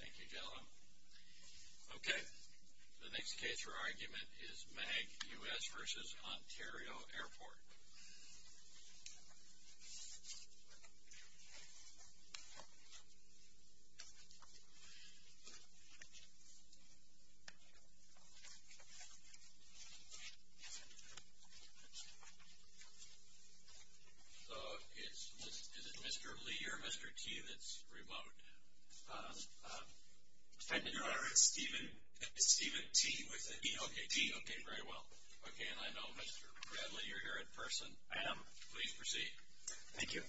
Thank you, gentlemen. Okay, the next case for argument is MAG US v. Ontario Airport. MAG US Lounge Management, LLC v. Ontario International Airport So, is it Mr. Lee or Mr. T that's remote? It's Steven T. Okay, T. Okay, very well. Okay, and I know Mr. Bradley, you're here in person. I am. Please proceed. Thank you.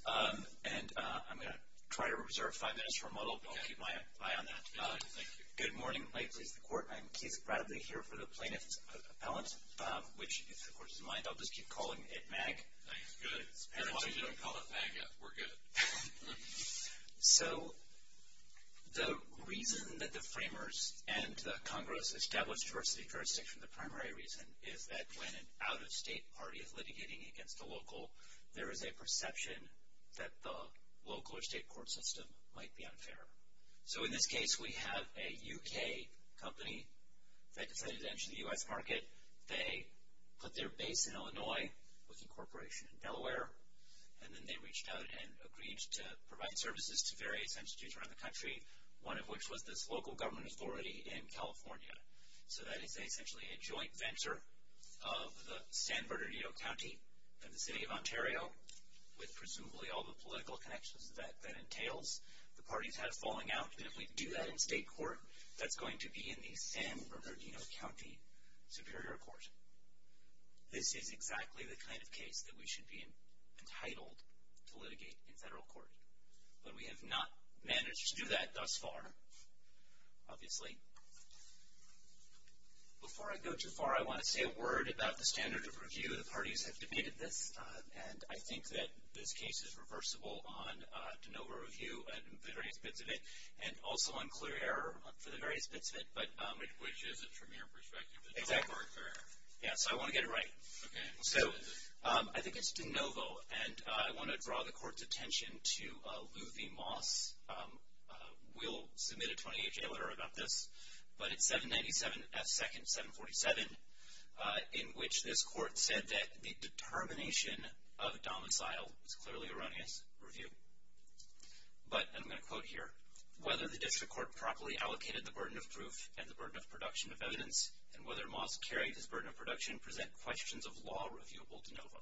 And I'm going to try to reserve five minutes for a model, but I'll keep my eye on that. Okay, thank you. Good morning. May it please the Court. I'm Keith Bradley here for the plaintiff's appellant, which, if the Court is in mind, I'll just keep calling it MAG. Thanks. Good. You didn't call it MAG yet. We're good. So, the reason that the framers and the Congress established diversity of jurisdiction, the primary reason is that when an out-of-state party is litigating against the local, there is a perception that the local or state court system might be unfair. So, in this case, we have a U.K. company that decided to enter the U.S. market. They put their base in Illinois with incorporation in Delaware, and then they reached out and agreed to provide services to various institutes around the country, one of which was this local government authority in California. So that is essentially a joint venture of the San Bernardino County and the City of Ontario with presumably all the political connections that entails. The parties had a falling out, and if we do that in state court, that's going to be in the San Bernardino County Superior Court. This is exactly the kind of case that we should be entitled to litigate in federal court. But we have not managed to do that thus far, obviously. Before I go too far, I want to say a word about the standard of review. The parties have debated this, and I think that this case is reversible on de novo review and the various bits of it, and also on clear error for the various bits of it. Which isn't from your perspective. Exactly. Yeah, so I want to get it right. Okay. So I think it's de novo, and I want to draw the court's attention to Luthy Moss. We'll submit a 28-day letter about this, but it's 797 F. 2nd 747, in which this court said that the determination of domicile is clearly erroneous review. But I'm going to quote here, whether the district court properly allocated the burden of proof and the burden of production of evidence, and whether Moss carried his burden of production present questions of law reviewable de novo.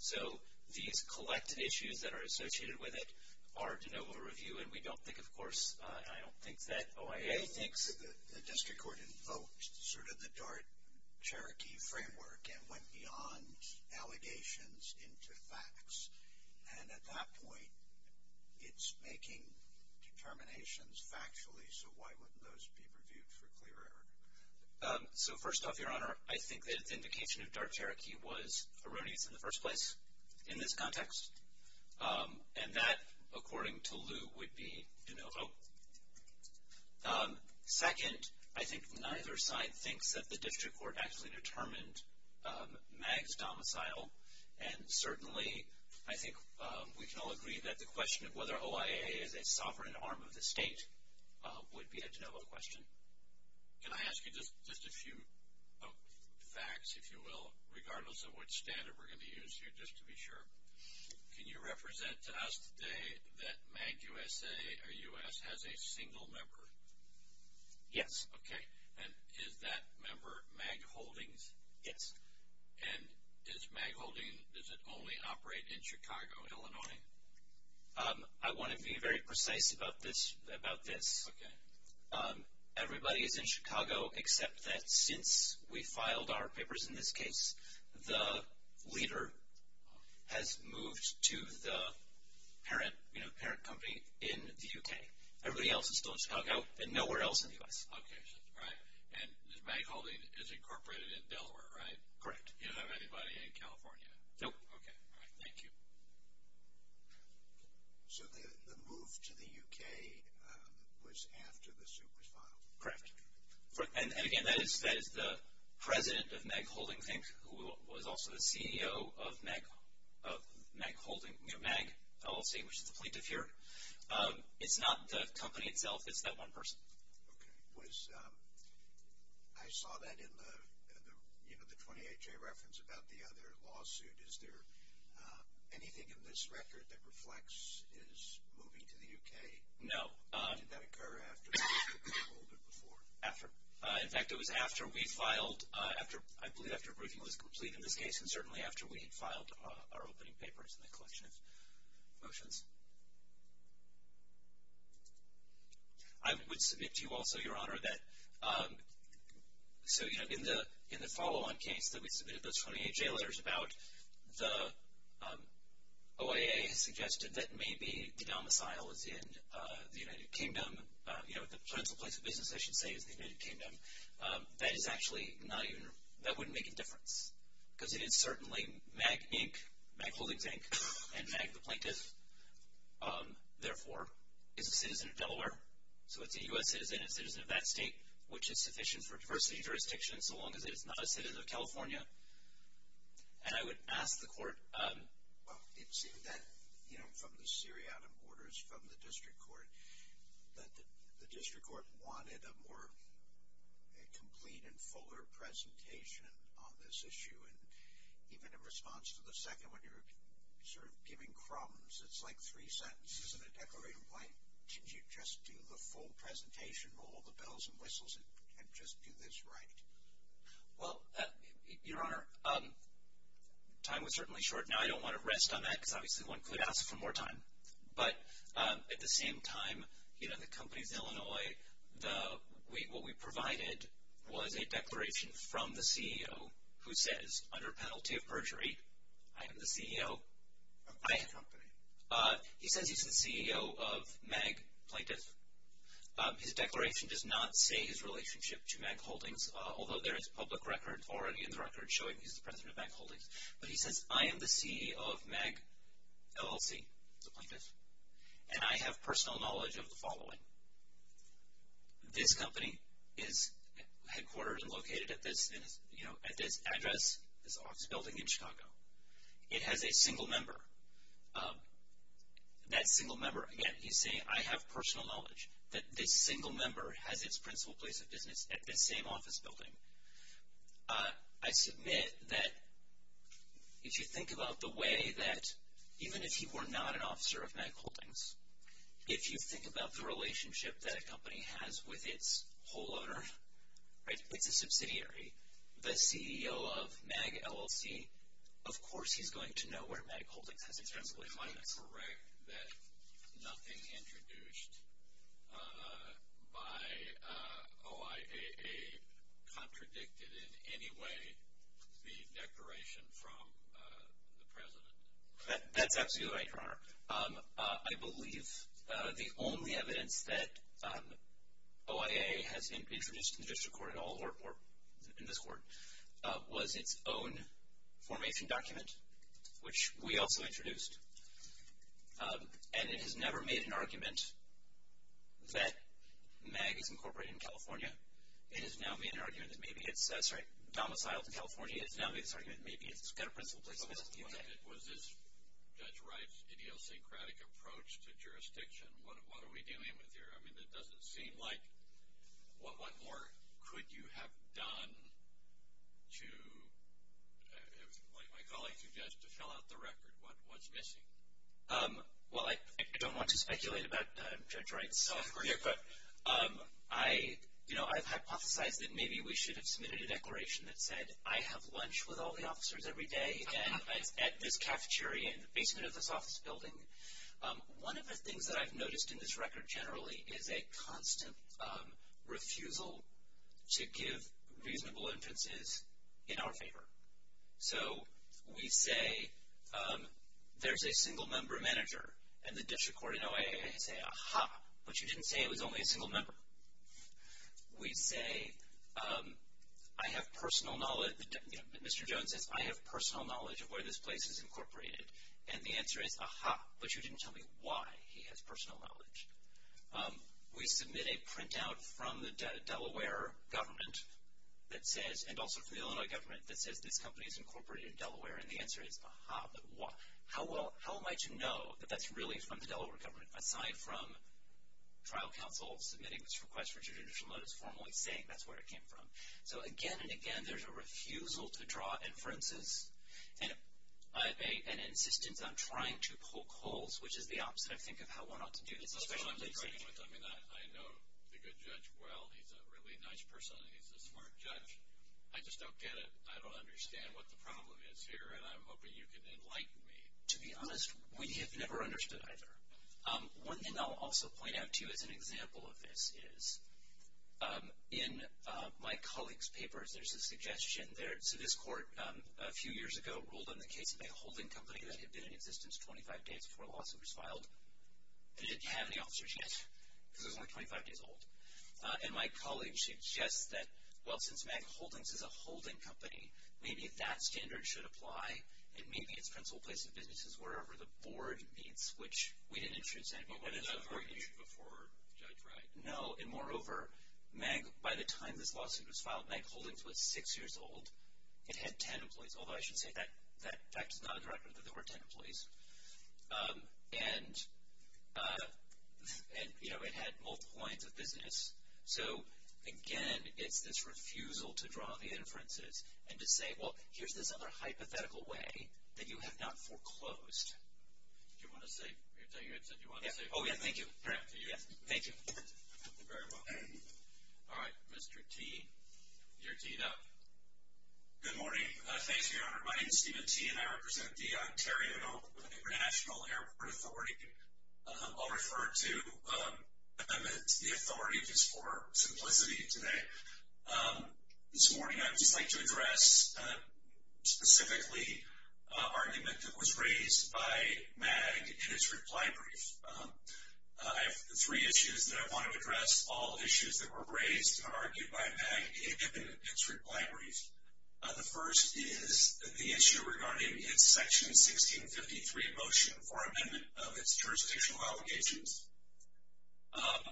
So these collected issues that are associated with it are de novo review, and we don't think, of course, I don't think that OIA thinks. I think the district court invoked sort of the Dart-Cherokee framework and went beyond allegations into facts. And at that point, it's making determinations factually. So why wouldn't those be reviewed for clear error? So first off, Your Honor, I think that the invocation of Dart-Cherokee was erroneous in the first place in this context. And that, according to Lew, would be de novo. Second, I think neither side thinks that the district court actually determined Mag's domicile. And certainly, I think we can all agree that the question of whether OIA is a sovereign arm of the state would be a de novo question. Can I ask you just a few facts, if you will, regardless of which standard we're going to use here, just to be sure? Can you represent to us today that Mag USA or U.S. has a single member? Yes. Okay. And is that member Mag Holdings? Yes. And is Mag Holdings, does it only operate in Chicago, Illinois? I want to be very precise about this. Okay. Everybody is in Chicago except that since we filed our papers in this case, the leader has moved to the parent company in the U.K. Everybody else is still in Chicago and nowhere else in the U.S. Okay. All right. And Mag Holdings is incorporated in Delaware, right? Correct. You don't have anybody in California? Nope. Okay. All right. Thank you. So the move to the U.K. was after the suit was filed? Correct. And again, that is the president of Mag Holdings Inc., who was also the CEO of Mag LLC, which is the plaintiff here. It's not the company itself. It's that one person. Okay. I saw that in the 28-J reference about the other lawsuit. Is there anything in this record that reflects his moving to the U.K.? No. Did that occur after the briefing or a little bit before? After. In fact, it was after we filed, I believe after a briefing was complete in this case, and certainly after we had filed our opening papers and the collection of motions. I would submit to you also, Your Honor, that in the follow-on case that we submitted those 28-J letters about, the OIA suggested that maybe the domicile is in the United Kingdom. The principal place of business, I should say, is the United Kingdom. That is actually not even – that wouldn't make a difference, because it is certainly Mag Inc., Mag Holdings Inc., and Mag, the plaintiff, therefore, is a citizen of Delaware. So it's a U.S. citizen and a citizen of that state, which is sufficient for diversity jurisdiction, so long as it is not a citizen of California. And I would ask the Court – Well, it seemed that, you know, from the Syriatim orders from the District Court, that the District Court wanted a more complete and fuller presentation on this issue. And even in response to the second one, you're sort of giving crumbs. It's like three sentences in a declarative plaint. Can't you just do the full presentation, roll the bells and whistles, and just do this right? Well, Your Honor, time was certainly short. Now, I don't want to rest on that, because obviously one could ask for more time. But at the same time, you know, the companies in Illinois, what we provided was a declaration from the CEO who says, under penalty of perjury, I am the CEO – Of which company? He says he's the CEO of Mag Plaintiff. His declaration does not say his relationship to Mag Holdings, although there is public record already in the record showing he's the president of Mag Holdings. But he says, I am the CEO of Mag LLC, the plaintiff, and I have personal knowledge of the following. This company is headquartered and located at this address, this office building in Chicago. It has a single member. That single member, again, he's saying, I have personal knowledge that this single member has its principal place of business at this same office building. I submit that if you think about the way that even if he were not an officer of Mag Holdings, if you think about the relationship that a company has with its whole owner, right, it's a subsidiary, the CEO of Mag LLC, of course he's going to know where Mag Holdings has its principal place. Am I correct that nothing introduced by OIAA contradicted in any way the declaration from the president? That's absolutely right, Your Honor. I believe the only evidence that OIAA has introduced in the district court at all, or in this court, was its own formation document, which we also introduced. And it has never made an argument that Mag is incorporated in California. It has now made an argument that maybe it's domiciled in California. It has now made this argument that maybe it's got a principal place of business in the U.K. Was this Judge Wright's idiosyncratic approach to jurisdiction? What are we dealing with here? I mean, it doesn't seem like one more. Could you have done to, like my colleague suggested, to fill out the record? What's missing? Well, I don't want to speculate about Judge Wright's software here, but I've hypothesized that maybe we should have submitted a declaration that said, I have lunch with all the officers every day at this cafeteria in the basement of this office building. One of the things that I've noticed in this record, generally, is a constant refusal to give reasonable inferences in our favor. So we say, there's a single-member manager. And the district court and OIAA say, Aha! But you didn't say it was only a single member. We say, I have personal knowledge. Mr. Jones says, I have personal knowledge of where this place is incorporated. And the answer is, Aha! But you didn't tell me why he has personal knowledge. We submit a printout from the Delaware government that says, and also from the Illinois government that says, this company is incorporated in Delaware. And the answer is, Aha! But how am I to know that that's really from the Delaware government, aside from trial counsel submitting this request for judicial notice formally saying that's where it came from. So again and again, there's a refusal to draw inferences. And an insistence on trying to poke holes, which is the opposite, I think, of how one ought to do this. That's what I'm disagreeing with. I mean, I know the good judge well. He's a really nice person, and he's a smart judge. I just don't get it. I don't understand what the problem is here, and I'm hoping you can enlighten me. To be honest, we have never understood either. One thing I'll also point out to you as an example of this is, in my colleagues' papers, there's a suggestion. So this court, a few years ago, ruled on the case of a holding company that had been in existence 25 days before a lawsuit was filed. It didn't have any officers yet, because it was only 25 days old. And my colleague suggests that, well, since Meg Holdings is a holding company, maybe that standard should apply, and maybe it's principal place of business is wherever the board meets, which we didn't introduce that. But it was never introduced before, right? No. Well, and moreover, Meg, by the time this lawsuit was filed, Meg Holdings was 6 years old. It had 10 employees, although I should say that fact is not a direct proof that there were 10 employees. And, you know, it had multiple points of business. So, again, it's this refusal to draw the inferences and to say, well, here's this other hypothetical way that you have not foreclosed. Did you want to say? I thought you had said you wanted to say. Oh, yeah, thank you. Thank you. Very well. All right. Mr. T, you're teed up. Good morning. Thanks, Your Honor. My name is Stephen T, and I represent the Ontario International Airport Authority. I'll refer to the authority just for simplicity today. This morning I would just like to address specifically an argument that was raised by Meg in its reply brief. I have three issues that I want to address. All issues that were raised are argued by Meg in its reply brief. The first is the issue regarding its Section 1653 motion for amendment of its jurisdictional obligations.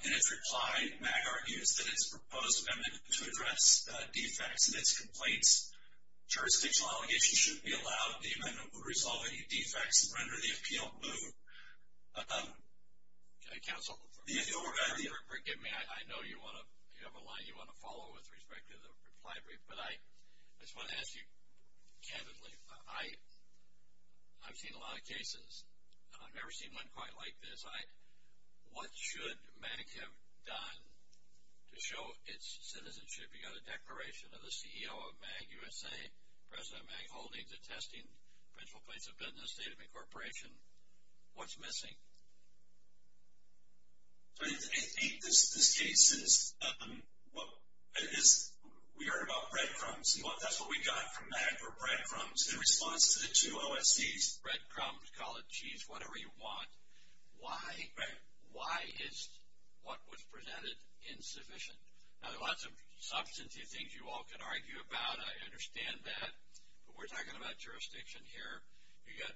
In its reply, Meg argues that it's proposed amendment to address defects in its complaints. Jurisdictional obligations should be allowed. The amendment would resolve any defects and render the appeal moot. Counsel, forgive me. I know you have a line you want to follow with respect to the reply brief, but I just want to ask you candidly. I've seen a lot of cases, and I've never seen one quite like this. What should Meg have done to show its citizenship? You've got a declaration of the CEO of Meg USA, President Meg Holdings, attesting principal place of business, state of incorporation. What's missing? I think this case is we heard about breadcrumbs, and that's what we got from Meg were breadcrumbs. In response to the two OSCs, breadcrumbs, call it cheese, whatever you want. Why is what was presented insufficient? Now, there are lots of substantive things you all can argue about. I understand that, but we're talking about jurisdiction here. You've got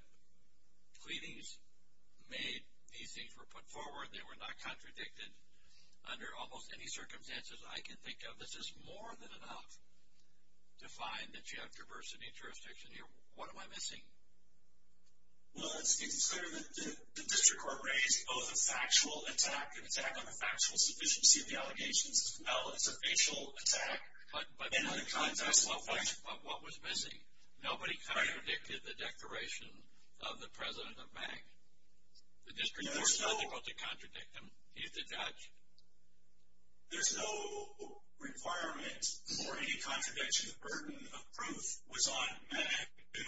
pleadings made. These things were put forward. They were not contradicted under almost any circumstances I can think of. This is more than enough to find that you have diversity in jurisdiction here. What am I missing? Well, it's clear that the district court raised both a factual attack, an attack on the factual sufficiency of the allegations as well as a facial attack. But in the context of what was missing, nobody contradicted the declaration of the president of Meg. The district court was not able to contradict them. He's the judge. There's no requirement for any contradiction. The burden of proof was on Meg to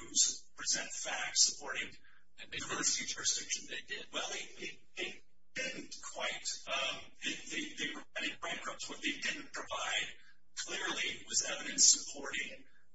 present facts supporting the diversity of jurisdiction they did. Well, they didn't quite. They provided breadcrumbs. What they didn't provide clearly was evidence supporting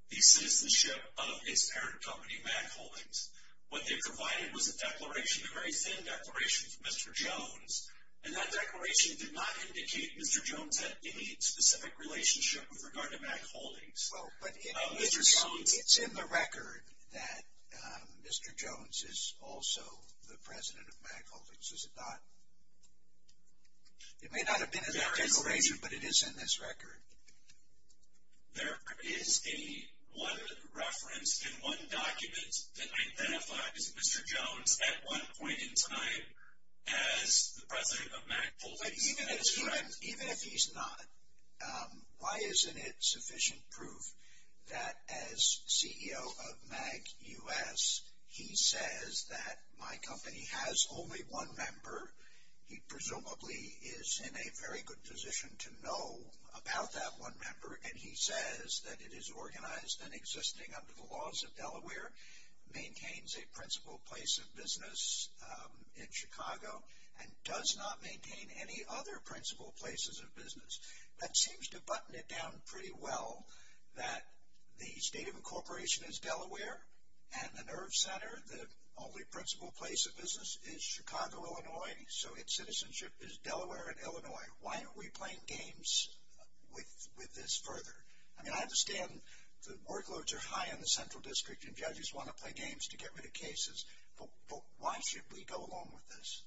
the citizenship of his parent company, Mac Holdings. What they provided was a declaration, a very thin declaration from Mr. Jones, and that declaration did not indicate Mr. Jones had any specific relationship with regard to Mac Holdings. Well, but it's in the record that Mr. Jones is also the president of Mac Holdings, is it not? It may not have been in that declaration, but it is in this record. There is a reference in one document that identifies Mr. Jones at one point in time as the president of Mac Holdings. Even if he's not, why isn't it sufficient proof that as CEO of Mac U.S., he says that my company has only one member? He presumably is in a very good position to know about that one member, and he says that it is organized and existing under the laws of Delaware, maintains a principal place of business in Chicago, and does not maintain any other principal places of business. That seems to button it down pretty well that the state of incorporation is Delaware, and the nerve center, the only principal place of business is Chicago, Illinois, so its citizenship is Delaware and Illinois. Why aren't we playing games with this further? I mean, I understand the workloads are high in the central district, and judges want to play games to get rid of cases, but why should we go along with this?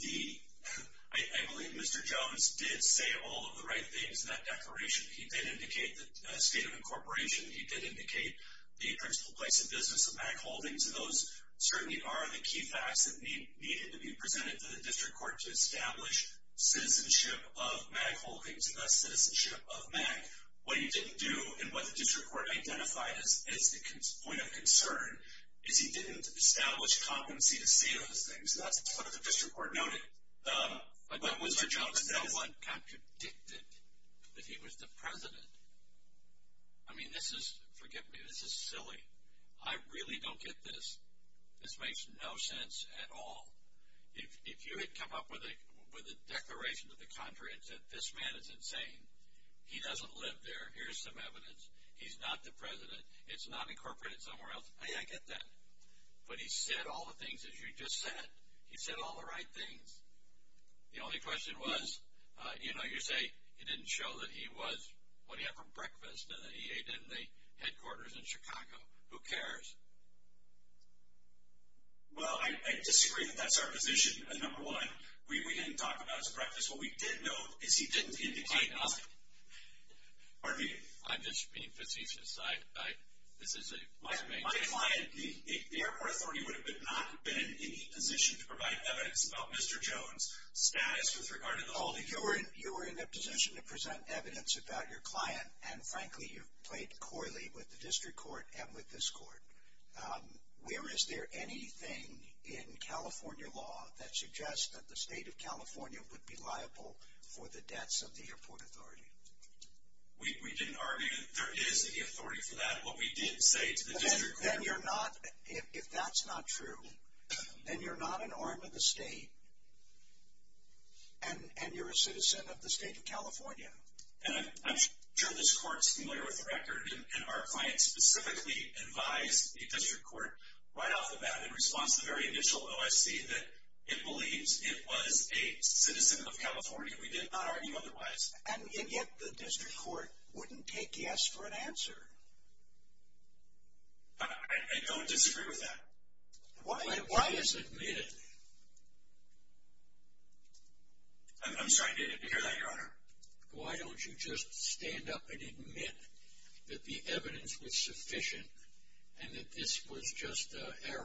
I believe Mr. Jones did say all of the right things in that declaration. He did indicate the state of incorporation. He did indicate the principal place of business of Mac Holdings. Those certainly are the key facts that needed to be presented to the district court to establish citizenship of Mac Holdings, thus citizenship of Mac. What he didn't do, and what the district court identified as the point of concern, is he didn't establish competency to see those things. That's what the district court noted. But, Mr. Jones, no one contradicted that he was the president. I mean, this is, forgive me, this is silly. I really don't get this. This makes no sense at all. If you had come up with a declaration to the contrary and said this man is insane, he doesn't live there, here's some evidence, he's not the president, it's not incorporated somewhere else, I get that. But he said all the things that you just said. He said all the right things. The only question was, you know, you say he didn't show that he was what he had for breakfast and that he ate in the headquarters in Chicago. Who cares? Well, I disagree that that's our position, number one. We didn't talk about his breakfast. What we did know is he didn't indicate that. I'm just being facetious. My client, the airport authority would not have been in any position to provide evidence about Mr. Jones' status with regard to the whole thing. You were in a position to present evidence about your client, and frankly you played coyly with the district court and with this court. Where is there anything in California law that suggests that the state of California would be liable for the deaths of the airport authority? We didn't argue that there is any authority for that. What we did say to the district court. Then you're not, if that's not true, then you're not an arm of the state and you're a citizen of the state of California. And I'm sure this court's familiar with the record, and our client specifically advised the district court right off the bat in response to the very initial OSC that it believes it was a citizen of California. We did not argue otherwise. And yet the district court wouldn't take yes for an answer. I don't disagree with that. Why is it admitted? I'm sorry, did you hear that, Your Honor? Why don't you just stand up and admit that the evidence was sufficient and that this was just error?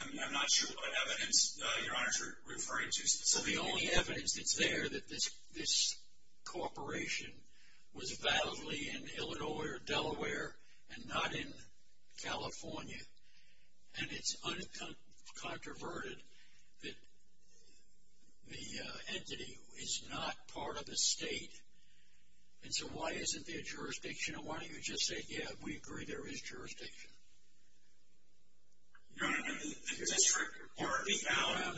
I'm not sure what evidence, Your Honor, you're referring to. So the only evidence that's there that this corporation was validly in Illinois or Delaware and not in California. And it's uncontroverted that the entity is not part of the state. And so why isn't there jurisdiction? Why don't you just say, yeah, we agree there is jurisdiction? Your Honor,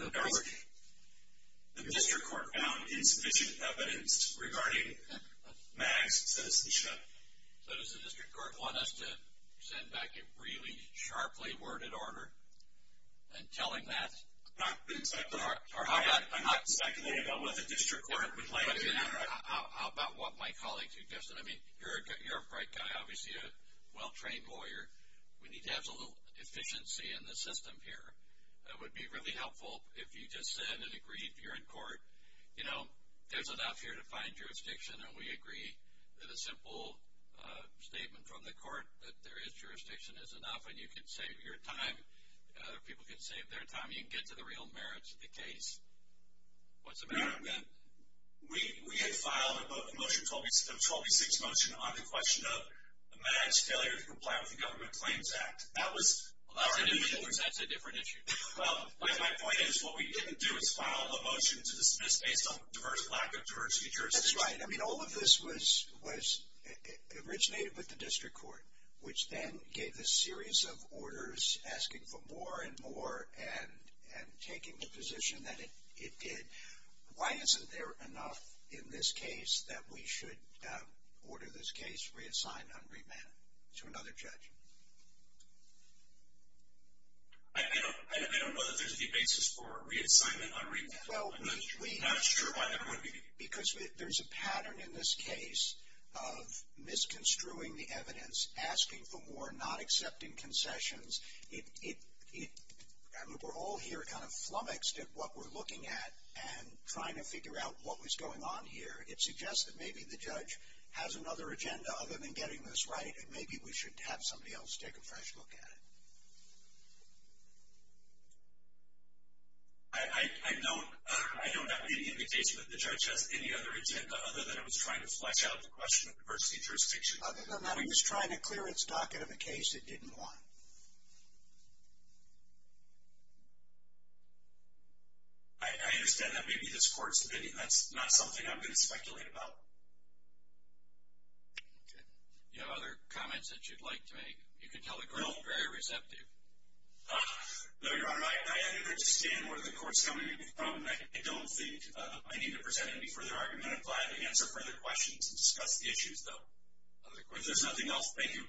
the district court found insufficient evidence regarding Max's citizenship. So does the district court want us to send back a really sharply worded order telling that? I'm not speculating about what the district court would like. How about what my colleague suggested? I mean, you're a bright guy, obviously a well-trained lawyer. We need to have some efficiency in the system here. It would be really helpful if you just said and agreed you're in court. You know, there's enough here to find jurisdiction, and we agree that a simple statement from the court that there is jurisdiction is enough, and you can save your time or people can save their time. You can get to the real merits of the case. What's the matter with that? We had filed a motion, a 12-6 motion, on the question of Max's failure to comply with the Government Claims Act. That's a different issue. My point is what we didn't do is file a motion to dismiss based on diverse lack of diversity. That's right. I mean, all of this was originated with the district court, which then gave a series of orders asking for more and more and taking the position that it did. Why isn't there enough in this case that we should order this case reassigned on remand to another judge? I don't know that there's any basis for reassignment on remand. I'm not sure why there would be. Because there's a pattern in this case of misconstruing the evidence, asking for more, not accepting concessions. I mean, we're all here kind of flummoxed at what we're looking at and trying to figure out what was going on here. It suggests that maybe the judge has another agenda other than getting this right and maybe we should have somebody else take a fresh look at it. I don't have any indication that the judge has any other agenda other than it was trying to flesh out the question of diversity and jurisdiction. Other than that, it was trying to clear its docket of a case it didn't want. I understand that maybe this court's opinion. That's not something I'm going to speculate about. Okay. Do you have other comments that you'd like to make? You can tell the group is very receptive. No, Your Honor, I understand where the court's coming from. I don't think I need to present any further argument. I'm glad to answer further questions and discuss the issues, though. If there's nothing else, thank you.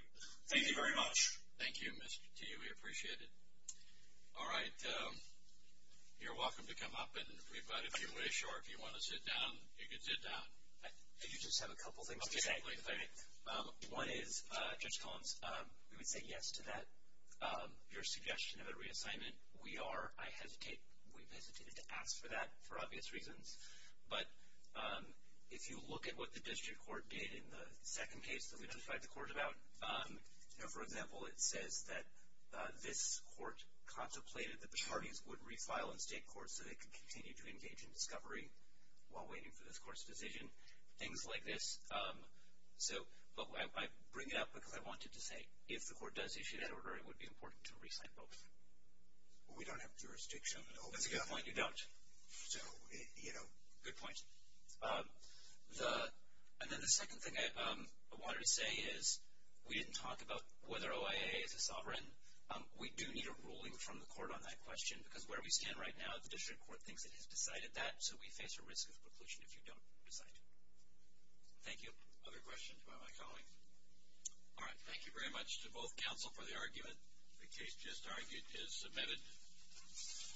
Thank you very much. Thank you, Mr. Teague. We appreciate it. All right. You're welcome to come up. If you wish or if you want to sit down, you can sit down. I do just have a couple things to say. One is, Judge Collins, we would say yes to that, your suggestion of a reassignment. We are. I hesitate. We've hesitated to ask for that for obvious reasons. But if you look at what the district court did in the second case that we testified to the court about, for example, it says that this court contemplated that the parties would refile in state courts so they could continue to engage in discovery while waiting for this court's decision, things like this. But I bring it up because I wanted to say if the court does issue that order, it would be important to resign both. We don't have jurisdiction. That's a good point. You don't. So, you know, good point. And then the second thing I wanted to say is we didn't talk about whether OIA is a sovereign. We do need a ruling from the court on that question because where we stand right now, the district court thinks it has decided that, so we face a risk of preclusion if you don't decide. Thank you. Other questions by my colleagues? All right. Thank you very much to both counsel for the argument. The case just argued is submitted.